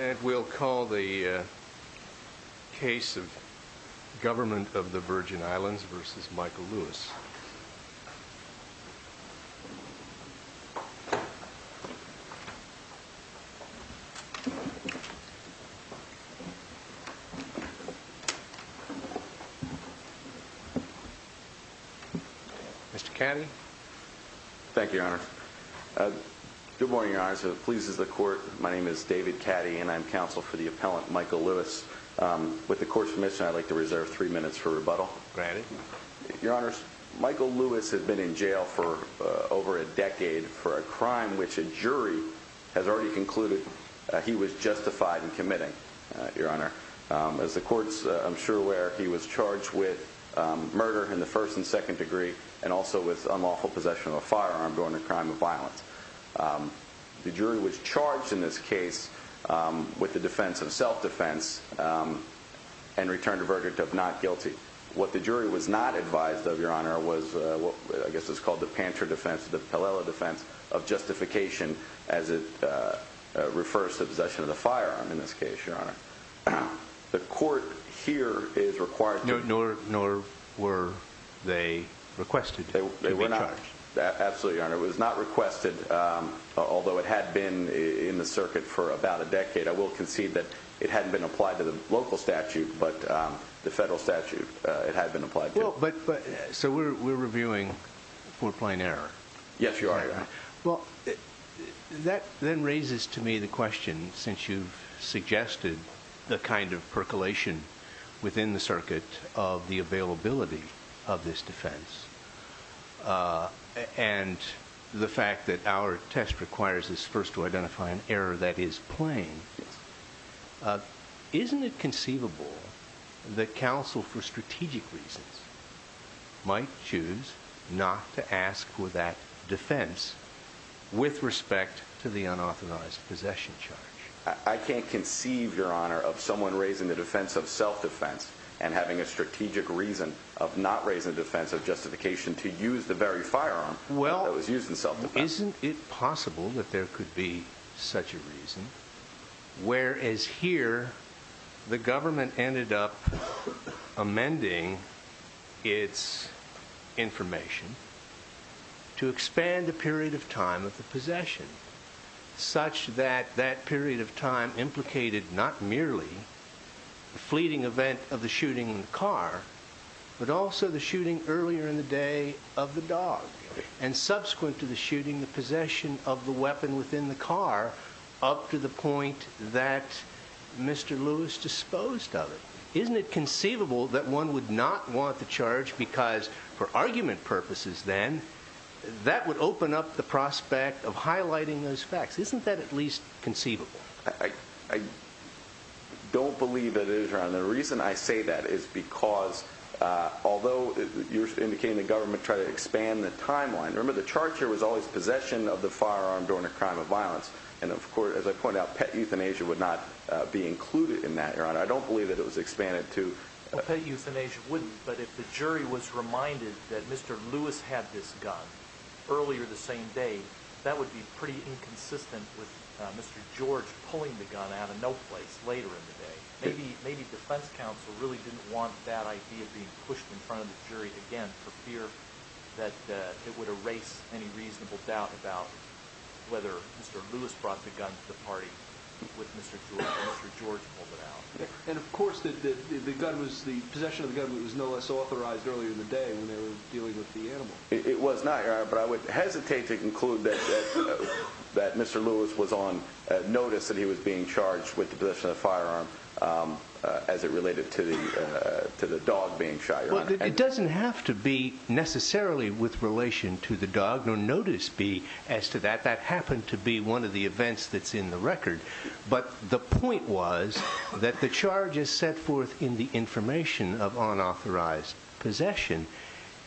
And we'll call the case of Government of the Virgin Islands v. Michael Lewis. Mr. Caddy. Thank you, Your Honor. Good morning, Your Honor. So it pleases the court, my name is David Caddy and I'm counsel for the appellant Michael Lewis. With the court's permission, I'd like to reserve three minutes for rebuttal. Go ahead. Your Honor, Michael Lewis has been in jail for over a decade for a crime which a jury has already concluded he was justified in committing, Your Honor. As the court's, I'm sure, aware, he was charged with murder in the first and second degree and also with unlawful possession of a firearm during a crime of violence. The jury was charged in this case with the defense of self-defense and returned a verdict of not guilty. What the jury was not advised of, Your Honor, was what I guess is called the Panter defense, the Pelela defense of justification as it refers to possession of the firearm in this case, Your Honor. The court here is required to... Nor were they requested to be charged. Absolutely, Your Honor. It was not requested, although it had been in the circuit for about a decade. I will concede that it hadn't been applied to the local statute, but the federal statute, it had been applied to. We're reviewing for plain error. Yes, you are, Your Honor. That then raises to me the question, since you've suggested the kind of percolation within the circuit of the availability of this defense and the fact that our test requires us first to identify an error that is plain, isn't it conceivable that counsel for strategic reasons might choose not to ask for that defense with respect to the unauthorized possession charge? I can't conceive, Your Honor, of someone raising the defense of self-defense and having a strategic reason of not raising the defense of justification to use the very firearm that was used in self-defense. Well, isn't it possible that there could be such a reason, whereas here the government ended up amending its information to expand the period of time of the possession such that that period of time implicated not merely the fleeting event of the shooting in the car, but also the shooting earlier in the day of the dog, and subsequent to the shooting, the possession of the weapon within the car up to the point that Mr. Lewis disposed of it. Isn't it conceivable that one would not want the charge because, for argument purposes then, that would open up the prospect of highlighting those facts? Isn't that at least conceivable? I don't believe that it is, Your Honor. The reason I say that is because, although you're indicating the government tried to expand the timeline. Remember, the charge here was always possession of the firearm during a crime of violence. And, of course, as I pointed out, pet euthanasia would not be included in that, Your Honor. I don't believe that it was expanded to... Pet euthanasia wouldn't, but if the jury was reminded that Mr. Lewis had this gun earlier the same day, that would be pretty inconsistent with Mr. George pulling the gun out of no place later in the day. Maybe defense counsel really didn't want that idea being pushed in front of the jury again for fear that it would erase any reasonable doubt about whether Mr. Lewis brought the gun to the party when Mr. George pulled it out. And, of course, the possession of the gun was no less authorized earlier in the day when they were dealing with the animal. It was not, Your Honor, but I would hesitate to conclude that Mr. Lewis was on notice that he was being charged with the possession of the firearm as it related to the dog being shot, Your Honor. Well, it doesn't have to be necessarily with relation to the dog, nor notice be as to that. That happened to be one of the events that's in the record. But the point was that the charges set forth in the information of unauthorized possession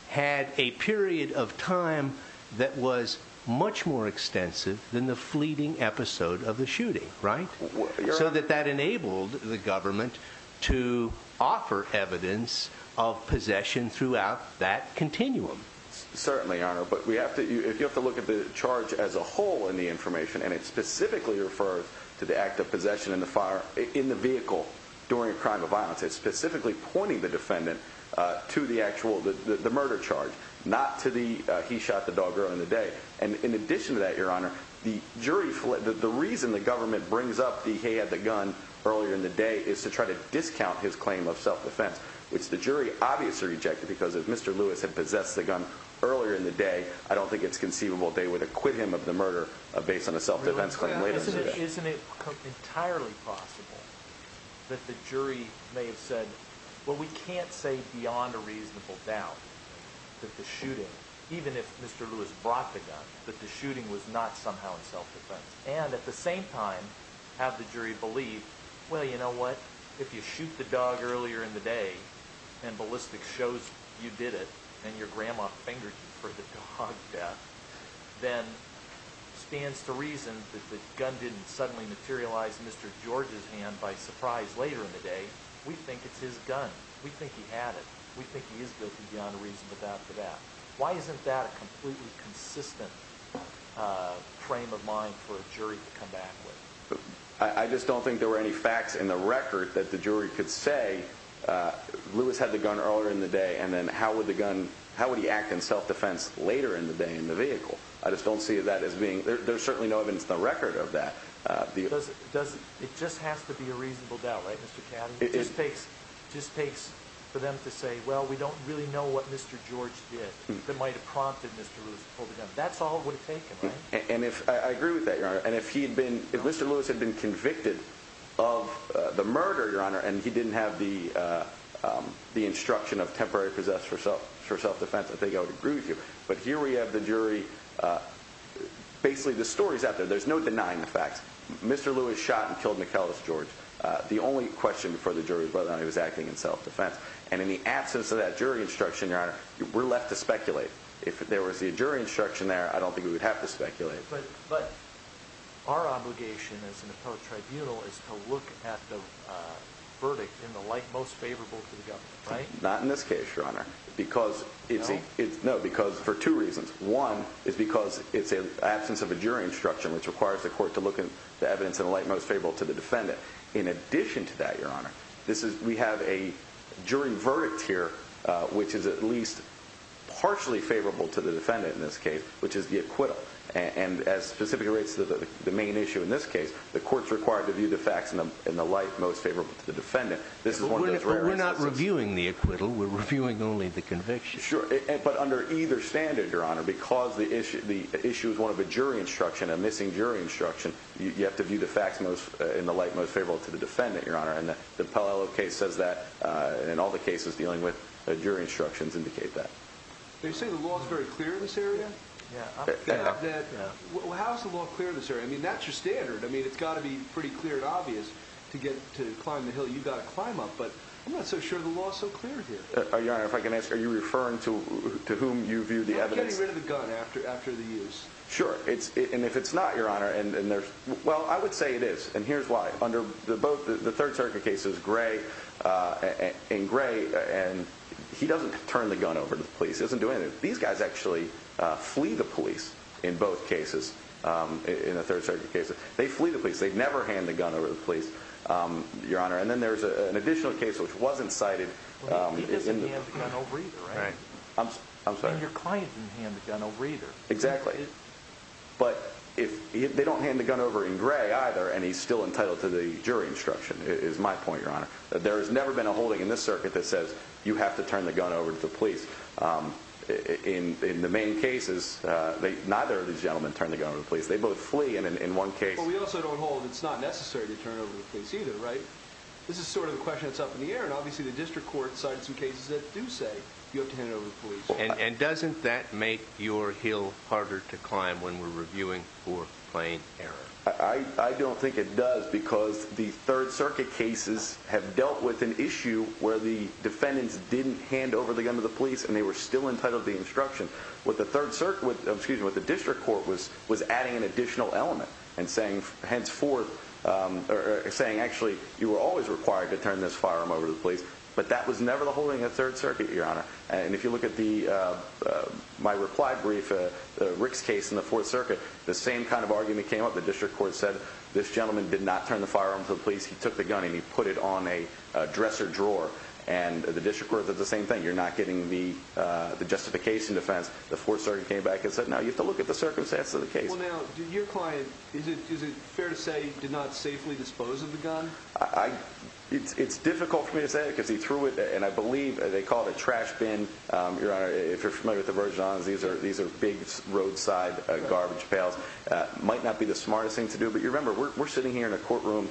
had a period of time that was much more extensive than the fleeting episode of the shooting, right? So that that enabled the government to offer evidence of possession throughout that continuum. Certainly, Your Honor, but we have to, if you have to look at the charge as a whole in the information, and it specifically refers to the act of possession in the fire in the vehicle during a crime of violence, it's specifically pointing the murder charge, not to the he shot the dog earlier in the day. And in addition to that, Your Honor, the reason the government brings up the he had the gun earlier in the day is to try to discount his claim of self-defense, which the jury obviously rejected because if Mr. Lewis had possessed the gun earlier in the day, I don't think it's conceivable they would acquit him of the murder based on a self-defense claim. Isn't it entirely possible that the jury may have said, well, we can't say beyond a reasonable doubt that the shooting, even if Mr. Lewis brought the gun, that the shooting was not somehow in self-defense. And at the same time, have the jury believe, well, you know what, if you shoot the dog earlier in the day, and ballistics shows you did it, and your grandma fingered you for the dog death, then stands to reason that the gun didn't suddenly materialize Mr. George's hand by surprise later in the day, we think it's his gun. We think he had it. We think he is guilty beyond a reasonable doubt for that. Why isn't that a completely consistent frame of mind for a jury to come back with? I just don't think there were any facts in the record that the jury could say Lewis had the gun earlier in the day. And then how would the gun, how would he act in self-defense later in the day in the vehicle? I just don't see that as being, there's certainly no evidence in the record of that. It just has to be a reasonable doubt, right, Mr. Caddy? It just takes for them to say, well, we don't really know what Mr. George did that might have prompted Mr. Lewis to pull the gun. That's all it would have taken, right? I agree with that, Your Honor. And if Mr. Lewis had been convicted of the murder, Your Honor, and he didn't have the instruction of temporary possess for self-defense, I think I would agree with you. But here we have the jury, basically the story's out there. There's no denying the facts. Mr. Lewis shot and killed Michalis George. The only question before the jury was whether or not he was acting in self-defense. And in the absence of that jury instruction, Your Honor, we're left to speculate. If there was the jury instruction there, I don't think we would have to speculate. But our obligation as an appellate tribunal is to look at the verdict in the light most favorable to the government, right? Not in this case, Your Honor. No. No, because for two reasons. One is because it's an absence of a jury instruction, which requires the court to look at the evidence in the light most favorable to the defendant. In addition to that, Your Honor, we have a jury verdict here, which is at least partially favorable to the defendant in this case, which is the acquittal. And as specifically relates to the main issue in this case, the court's required to view the facts in the light most only the conviction. Sure. But under either standard, Your Honor, because the issue the issue is one of a jury instruction, a missing jury instruction. You have to view the facts most in the light most favorable to the defendant, Your Honor. And the Apollo case says that in all the cases dealing with jury instructions indicate that they say the law is very clear in this area. Yeah, I'm glad that well, how's the law clear this area? I mean, that's your standard. I mean, it's got to be pretty clear and obvious to get to climb the hill. You got to climb up. But I'm not so sure the law is so clear here. Your Honor, if I can ask, are you referring to whom you view the evidence? I'm getting rid of the gun after the use. Sure. And if it's not, Your Honor, well, I would say it is. And here's why. Under both the Third Circuit cases, Gray and Gray, and he doesn't turn the gun over to the police. He doesn't do anything. These guys actually flee the police in both cases, in the Third Circuit cases. They flee the police. They never hand the gun over to the police, Your Honor. And then there's an additional case which wasn't cited. He doesn't hand the gun over either, right? I'm sorry? And your client didn't hand the gun over either. Exactly. But they don't hand the gun over in Gray either, and he's still entitled to the jury instruction, is my point, Your Honor. There has never been a holding in this circuit that says you have to turn the gun over to the police. In the main cases, neither of these turn over the case either, right? This is sort of the question that's up in the air, and obviously the District Court cited some cases that do say you have to hand it over to the police. And doesn't that make your heel harder to climb when we're reviewing for plain error? I don't think it does, because the Third Circuit cases have dealt with an issue where the defendants didn't hand over the gun to the police, and they were still entitled to the instruction. What the Third Circuit, excuse me, what the District Court was adding an additional element and saying, henceforth, or saying, actually, you were always required to turn this firearm over to the police. But that was never the holding of Third Circuit, Your Honor. And if you look at my replied brief, Rick's case in the Fourth Circuit, the same kind of argument came up. The District Court said, this gentleman did not turn the firearm to the police. He took the gun, and he put it on a dresser drawer. And the District Court did the same thing. You're not getting the justification defense. The Fourth Circuit came back and said, no, you have to look at the circumstances of the case. Well, now, your client, is it fair to say, did not safely dispose of the gun? It's difficult for me to say, because he threw it, and I believe, they call it a trash bin. Your Honor, if you're familiar with the Virgin Islands, these are big roadside garbage pails. Might not be the smartest thing to do. But you remember, we're sitting here in a courtroom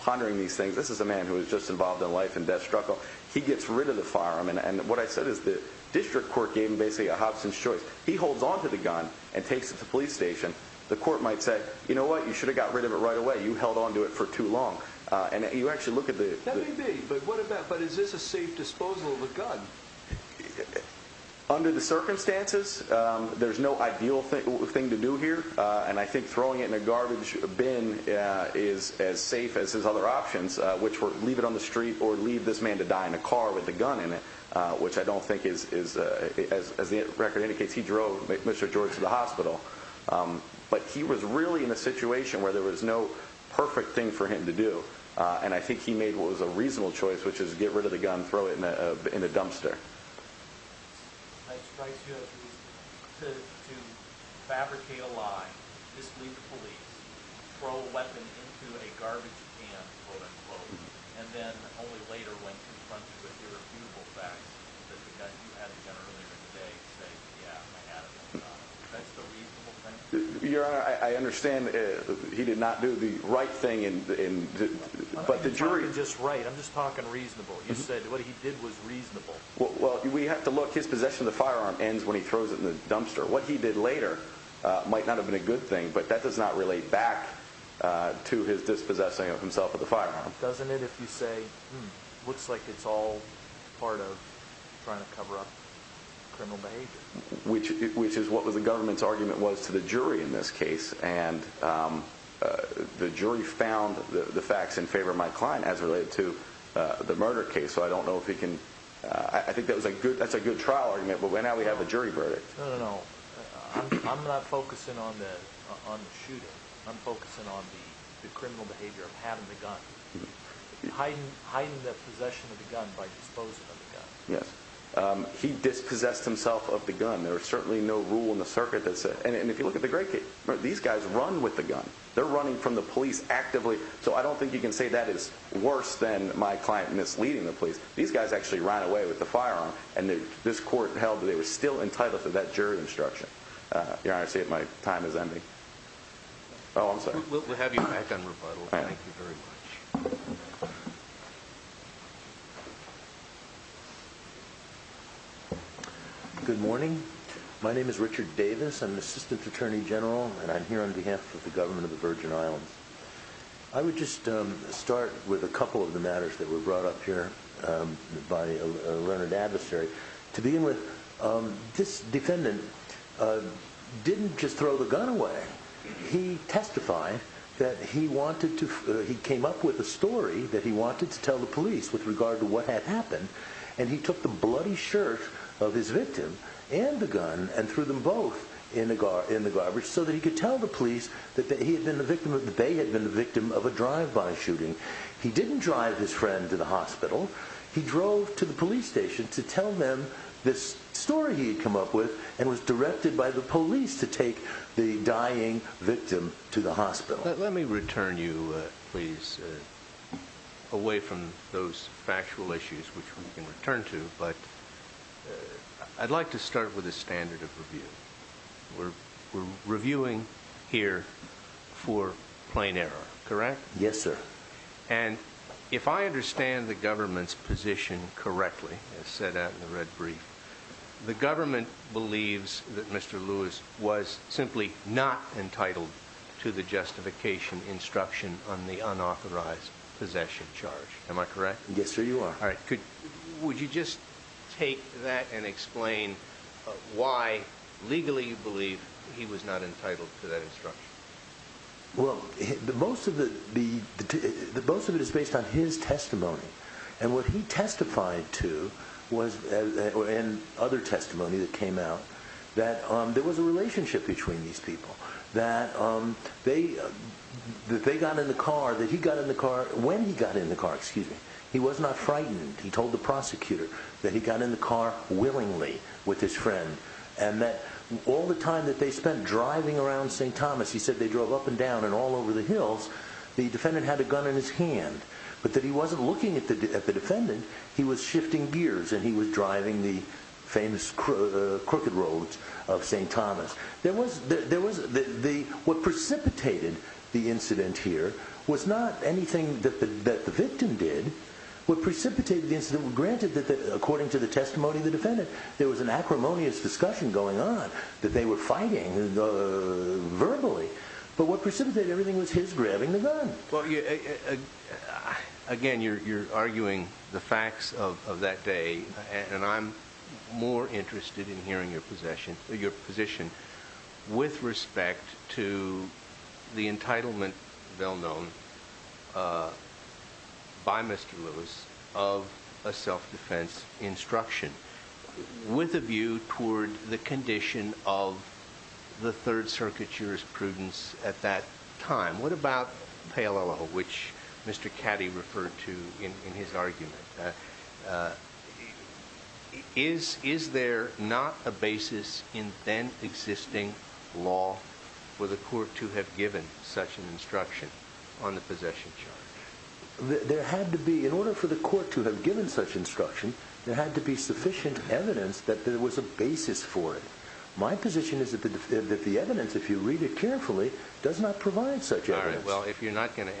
pondering these things. This is a man who was just involved in a life and death struggle. He gets rid of the firearm. And what I said is the District Court gave him basically a choice. He holds on to the gun and takes it to the police station. The court might say, you know what, you should have got rid of it right away. You held on to it for too long. And you actually look at the... That may be, but what about, but is this a safe disposal of the gun? Under the circumstances, there's no ideal thing to do here. And I think throwing it in a garbage bin is as safe as his other options, which were leave it on the street or leave this man to die in a car with a gun in it, which I don't think is, as the record indicates, he drove Mr. George to the hospital. But he was really in a situation where there was no perfect thing for him to do. And I think he made what was a reasonable choice, which is get rid of the gun, throw it in a dumpster. That strikes you as reasonable. To fabricate a lie, just leave the police, throw a weapon into a garbage can, quote-unquote, and then only later when confronted with irrefutable facts, that the guy who had the gun earlier in the day say, yeah, I had it, I'm done. That's the reasonable thing? Your Honor, I understand he did not do the right thing, but the jury... I'm not talking just right. I'm just talking reasonable. You said what he did was reasonable. Well, we have to look. His possession of the firearm ends when he throws it in the dumpster. What he did later might not have been a good thing, but that does not relate back to his dispossessing of himself of the firearm. Doesn't it, if you say, looks like it's all part of trying to cover up criminal behavior? Which is what the government's argument was to the jury in this case. And the jury found the facts in favor of my client as related to the murder case. So I don't know if he can... I think that's a good trial argument, but now we have a jury verdict. No, no, no. I'm not focusing on the shooting. I'm focusing on the criminal behavior of having the gun. Hiding the possession of the gun by disposing of the gun. Yes. He dispossessed himself of the gun. There is certainly no rule in the circuit that says... And if you look at the great case, these guys run with the gun. They're running from the police actively. So I don't think you can say that is worse than my client misleading the police. These guys actually ran away with the firearm, and this court held that they were still entitled to that jury instruction. Your Honor, I see that my time is ending. Oh, I'm sorry. We'll have you back on rebuttal. Thank you very much. Good morning. My name is Richard Davis. I'm an assistant attorney general, and I'm here on behalf of the government of the Virgin Islands. I would just start with a couple of the matters that were brought up here by a learned adversary. To begin with, this defendant didn't just throw the gun away. He testified that he wanted to... He came up with a story that he wanted to tell the police with regard to what had happened, and he took the bloody shirt of his victim and the gun and threw them both in the garbage so that he could tell the police that he had been the victim of... They had been the victim of a drive-by shooting. He didn't drive his friend to the hospital. He drove to the police station to tell them this story he had come up with and was directed by the police to take the dying victim to the hospital. Let me return you, please, away from those factual issues which we can return to, but I'd like to start with a standard of review. We're reviewing here for plain error, correct? Yes, sir. And if I understand the government's position correctly, as said out in the red brief, the government believes that Mr. Lewis was simply not entitled to the justification instruction on the unauthorized possession charge. Am I correct? Yes, sir, you are. All right. Would you just take that and explain why legally you believe he was not entitled to that instruction? Well, most of it is based on his testimony, and what he testified to was... And other testimony that came out that there was a relationship between these people, that they got in the car, that he got in the car... When he got in the car, he was not frightened. He told the prosecutor that he got in the car willingly with his friend and that all the time that they spent driving around St. Thomas, he said they drove up and down and all over the hills, the defendant had a gun in his hand, but that he wasn't looking at the defendant, he was shifting gears and he was driving the famous crooked roads of St. Thomas. There was... What precipitated the incident here was not anything that the victim did. What precipitated the incident, granted that according to the testimony of the defendant, there was an acrimonious discussion going on that they were fighting verbally, but what precipitated everything was his grabbing the gun. Again, you're arguing the facts of that day, and I'm more interested in hearing your position with respect to the entitlement, well known by Mr. Lewis, of a self-defense instruction with a view toward the condition of the Third Circuit jurisprudence at that time. What about Palo, which Mr. Caddy referred to in his argument? Is there not a basis in then existing law for the court to have given such an instruction on the possession charge? There had to be, in order for the court to have given such instruction, there had to be sufficient evidence that there was a basis for it. My position is that the evidence, if you read it carefully, does not provide such evidence. All right, well if you're not going to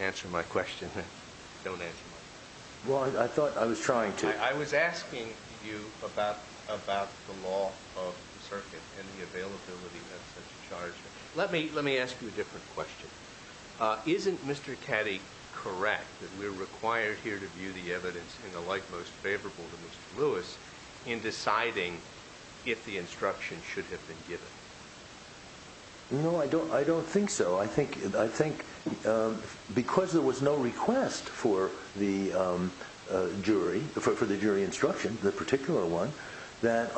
about the law of the circuit and the availability of such a charge, let me ask you a different question. Isn't Mr. Caddy correct that we're required here to view the evidence in the light most favorable to Mr. Lewis in deciding if the instruction should have been given? No, I don't think so. I think because there was no request for the jury instruction, the particular one, that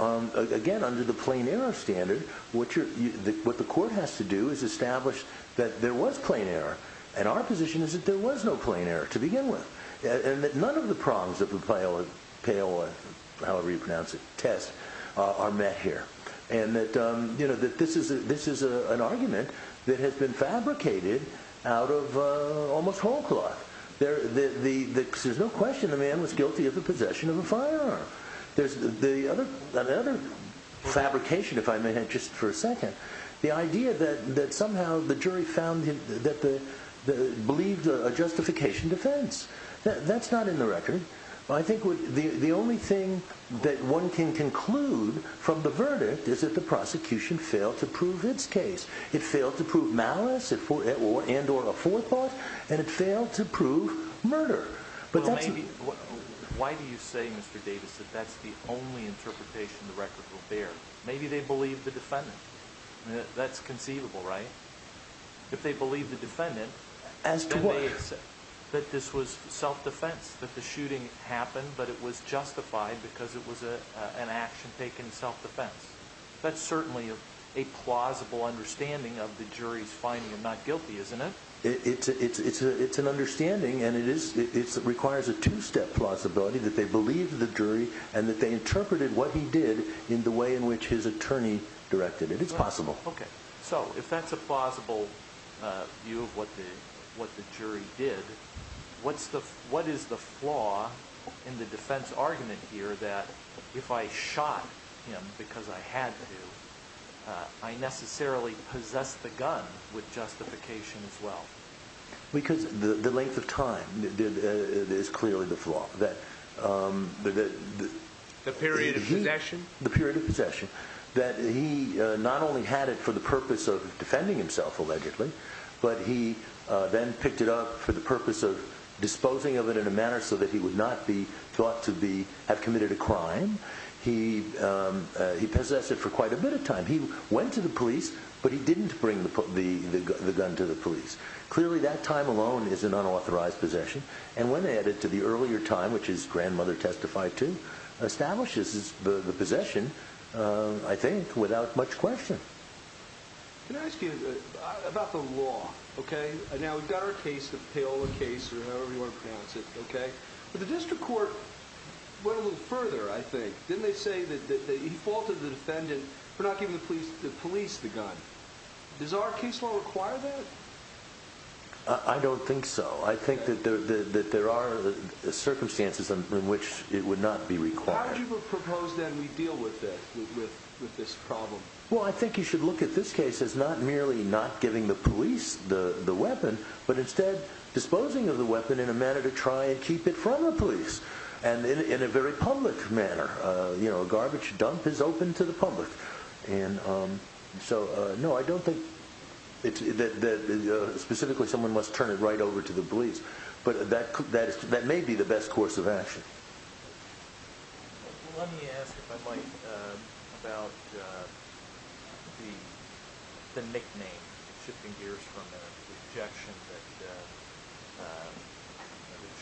again, under the plain error standard, what the court has to do is establish that there was plain error. And our position is that there was no plain error to begin with. And that none of the problems of the Palo test are met here. And that this is an argument that has been fabricated out of almost whole cloth. There's no question the man was there. The other fabrication, if I may have just for a second, the idea that somehow the jury found that they believed a justification defense. That's not in the record. I think the only thing that one can conclude from the verdict is that the prosecution failed to prove its case. It failed to prove malice and or a forethought. And it failed to prove murder. Why do you say, Mr. Davis, that that's the only interpretation the record will bear? Maybe they believe the defendant. That's conceivable, right? If they believe the defendant, that this was self-defense, that the shooting happened, but it was justified because it was an action taken in self-defense. That's certainly a plausible understanding of the jury's finding of not guilty, isn't it? It's an understanding. And it requires a two-step plausibility that they believed the jury and that they interpreted what he did in the way in which his attorney directed it. It's possible. OK. So if that's a plausible view of what the jury did, what is the flaw in the defense argument here that if I shot him because I had to, I necessarily possessed the gun with justification as well? Because the length of time is clearly the flaw. The period of possession? The period of possession. That he not only had it for the purpose of defending himself, allegedly, but he then picked it up for the purpose of disposing of it in a manner so that he would not be thought to have committed a crime. He possessed it for the gun to the police. Clearly, that time alone is an unauthorized possession. And when they add it to the earlier time, which his grandmother testified to, establishes the possession, I think, without much question. Can I ask you about the law? OK. Now, we've got our case, the Paola case, or however you want to pronounce it. OK. But the district court went a little further, I think. Didn't they say that he faulted the defendant for not giving the police the gun? Does our case law require that? I don't think so. I think that there are circumstances in which it would not be required. How would you propose, then, we deal with this problem? Well, I think you should look at this case as not merely not giving the police the weapon, but instead, disposing of the weapon in a manner to try and keep it from the police, and in a very public manner. A garbage dump is open to the public. And so, no, I don't think that, specifically, someone must turn it right over to the police. But that may be the best course of action. Let me ask, if I might, about the nickname, shifting gears from the objection that the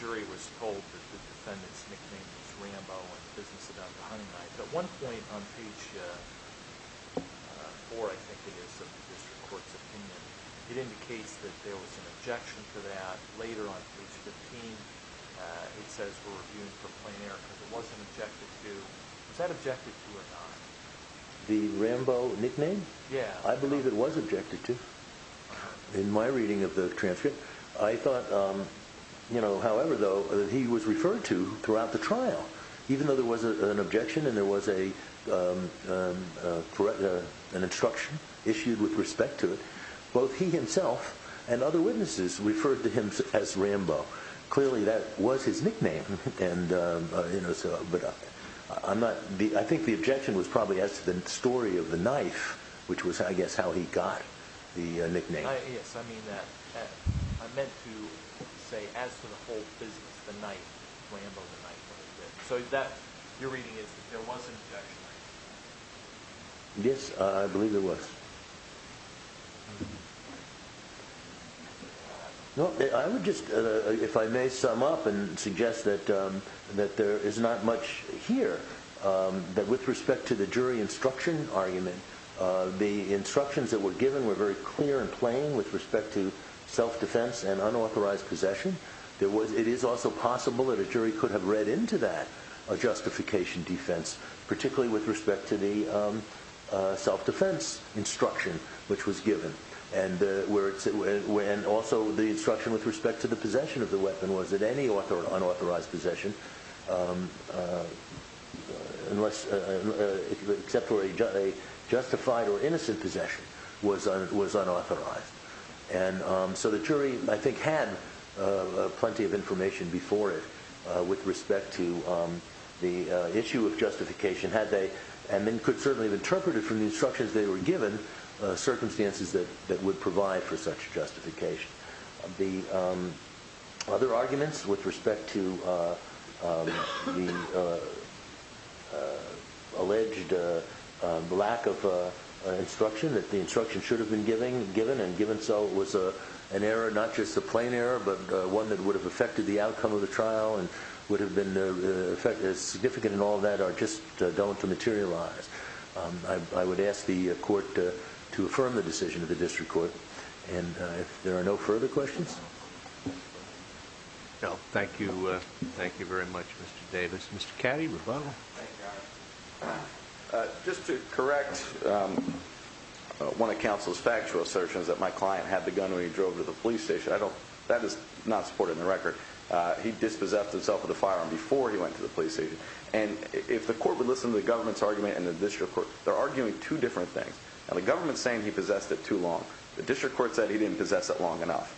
jury was told that the defendant's nickname was Rambo, and the business about the hunting knife. At one point, on page four, I think it is, of the district court's opinion, it indicates that there was an objection to that. Later, on page 15, it says we're reviewing for plein air, because it wasn't objected to. Was that objected to or not? The Rambo nickname? Yeah. I believe it was objected to. In my reading of the transcript, I thought, however, though, that he was referred to throughout the trial. Even though there was an objection and there was an instruction issued with respect to it, both he himself and other witnesses referred to him as Rambo. Clearly, that was his nickname. I think the objection was probably as to the story of the knife, which was, I guess, how he got the nickname. Yes, I mean that. I meant to say, as to the whole business, the knife, Rambo, the knife. So that, your reading is, there was an objection. Yes, I believe there was. No, I would just, if I may sum up and suggest that there is not much here, that with respect to the jury instruction argument, the instructions that were given were very clear and plain with respect to self-defense and unauthorized possession. It is also possible that a jury could have read into that justification defense, particularly with respect to the self-defense instruction which was given. And also, the instruction with respect to the possession of the weapon was that any unauthorized possession, except for a justified or innocent possession, was unauthorized. And so the jury, I think, had plenty of information before it with respect to the issue of justification, had they, and then could certainly have interpreted from the instructions they were given, circumstances that would provide for such justification. The other arguments with respect to the alleged lack of instruction, that the instruction should have been given, and given so, was an error, not just a plain error, but one that would have affected the outcome of the trial and would have been significant in all that, are just dull to materialize. I would ask the court to affirm the decision of the district court, and if there are no further questions. No, thank you. Thank you very much, Mr. Davis. Mr. Cady, rebuttal. Just to correct one of counsel's factual assertions that my client had the gun when he drove to the police station. I don't, that is not supported in the record. He dispossessed himself with a firearm before he went to the police station. And if the court would listen to the government's argument and the district court, they're arguing two different things. And the government's saying he possessed it too long. The district court said he didn't possess it long enough.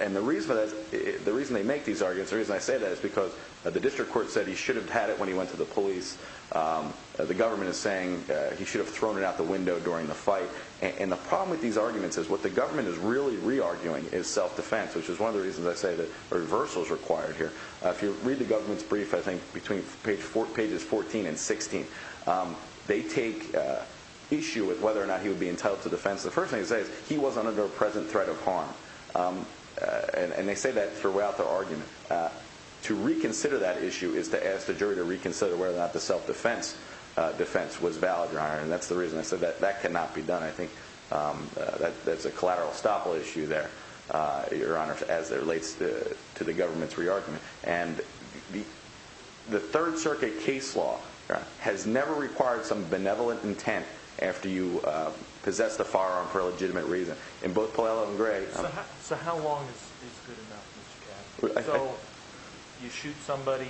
And the reason that, the reason they make these arguments, the reason I say that is because the district court said he should have had it when he went to the police. The government is saying he should have thrown it out the window during the fight. And the problem with these arguments is what the government is really re-arguing is self-defense, which is one of the reasons I say that a reversal is required here. If you read the government's brief, I think between page four, pages 14 and 16, they take issue with whether or not he would be entitled to defense. The first thing they say is he wasn't under a present threat of harm. And they say that throughout the argument. To reconsider that issue is to ask the jury to reconsider whether or not the self-defense defense was valid, Your Honor. And that's the reason I said that that cannot be done. I think that's a collateral estoppel issue there, Your Honor, as it relates to the government's re-argument. And the third circuit case law has never required some benevolent intent after you possess the firearm for a legitimate reason. In both Puello and Gray. So how long is good enough? So you shoot somebody,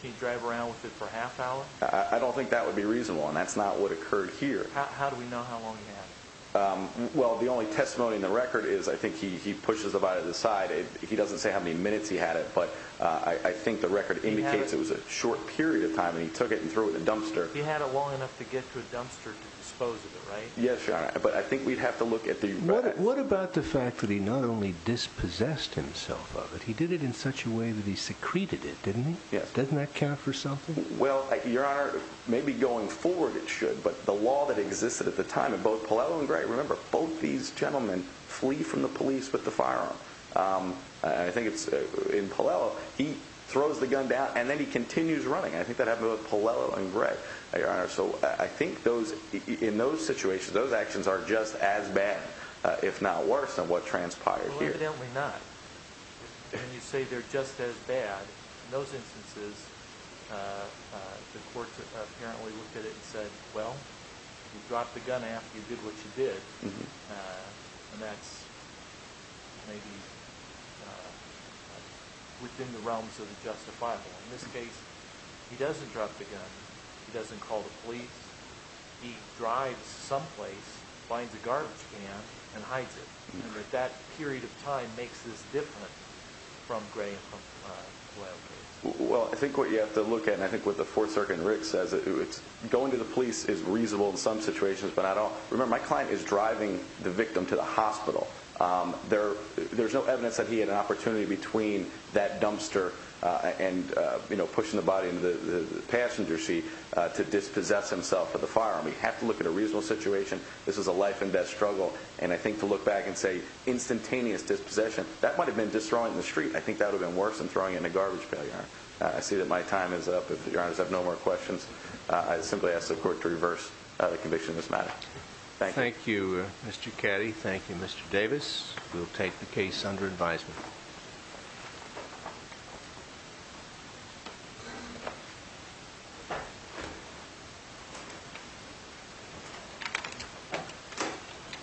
can you drive around with it for a half hour? I don't think that would be reasonable. And that's not what occurred here. How do we know how long he had it? Well, the only testimony in the record is I think he pushes it by the side. He doesn't say how many minutes he had it, but I think the He had it long enough to get to a dumpster to dispose of it, right? Yes, Your Honor. But I think we'd have to look at the... What about the fact that he not only dispossessed himself of it, he did it in such a way that he secreted it, didn't he? Doesn't that count for something? Well, Your Honor, maybe going forward it should, but the law that existed at the time in both Puello and Gray, remember both these gentlemen flee from the police with the firearm. I think in Puello, he throws the gun down and then he continues running. I think that happened with both Puello and Gray, Your Honor. So I think in those situations, those actions are just as bad, if not worse, than what transpired here. Well, evidently not. When you say they're just as bad, in those instances, the courts apparently looked at it and said, well, you dropped the gun after you did what you did, and that's maybe within the realms of the justifiable. In this case, he doesn't drop the gun, he doesn't call the police, he drives someplace, finds a garbage can and hides it. That period of time makes this different from Gray and Puello case. Well, I think what you have to look at, and I think what the Fourth Circuit and Rick says, going to the police is reasonable in some situations, but I don't... Remember, my client is driving the victim to the hospital. There's no evidence that he had an opportunity between that dumpster and pushing the body into the passenger seat to dispossess himself of the firearm. You have to look at a reasonable situation. This is a life and death struggle. I think to look back and say instantaneous dispossession, that might have been just throwing it in the street. I think that would have been worse than throwing it in a garbage pail, Your Honor. I see that my time is up. If Your Honors have no more questions, I simply ask the court to reverse the conviction in this matter. Thank you. Thank you, Mr. Caddy. Thank you, Mr. Davis. We'll take the case under advisement.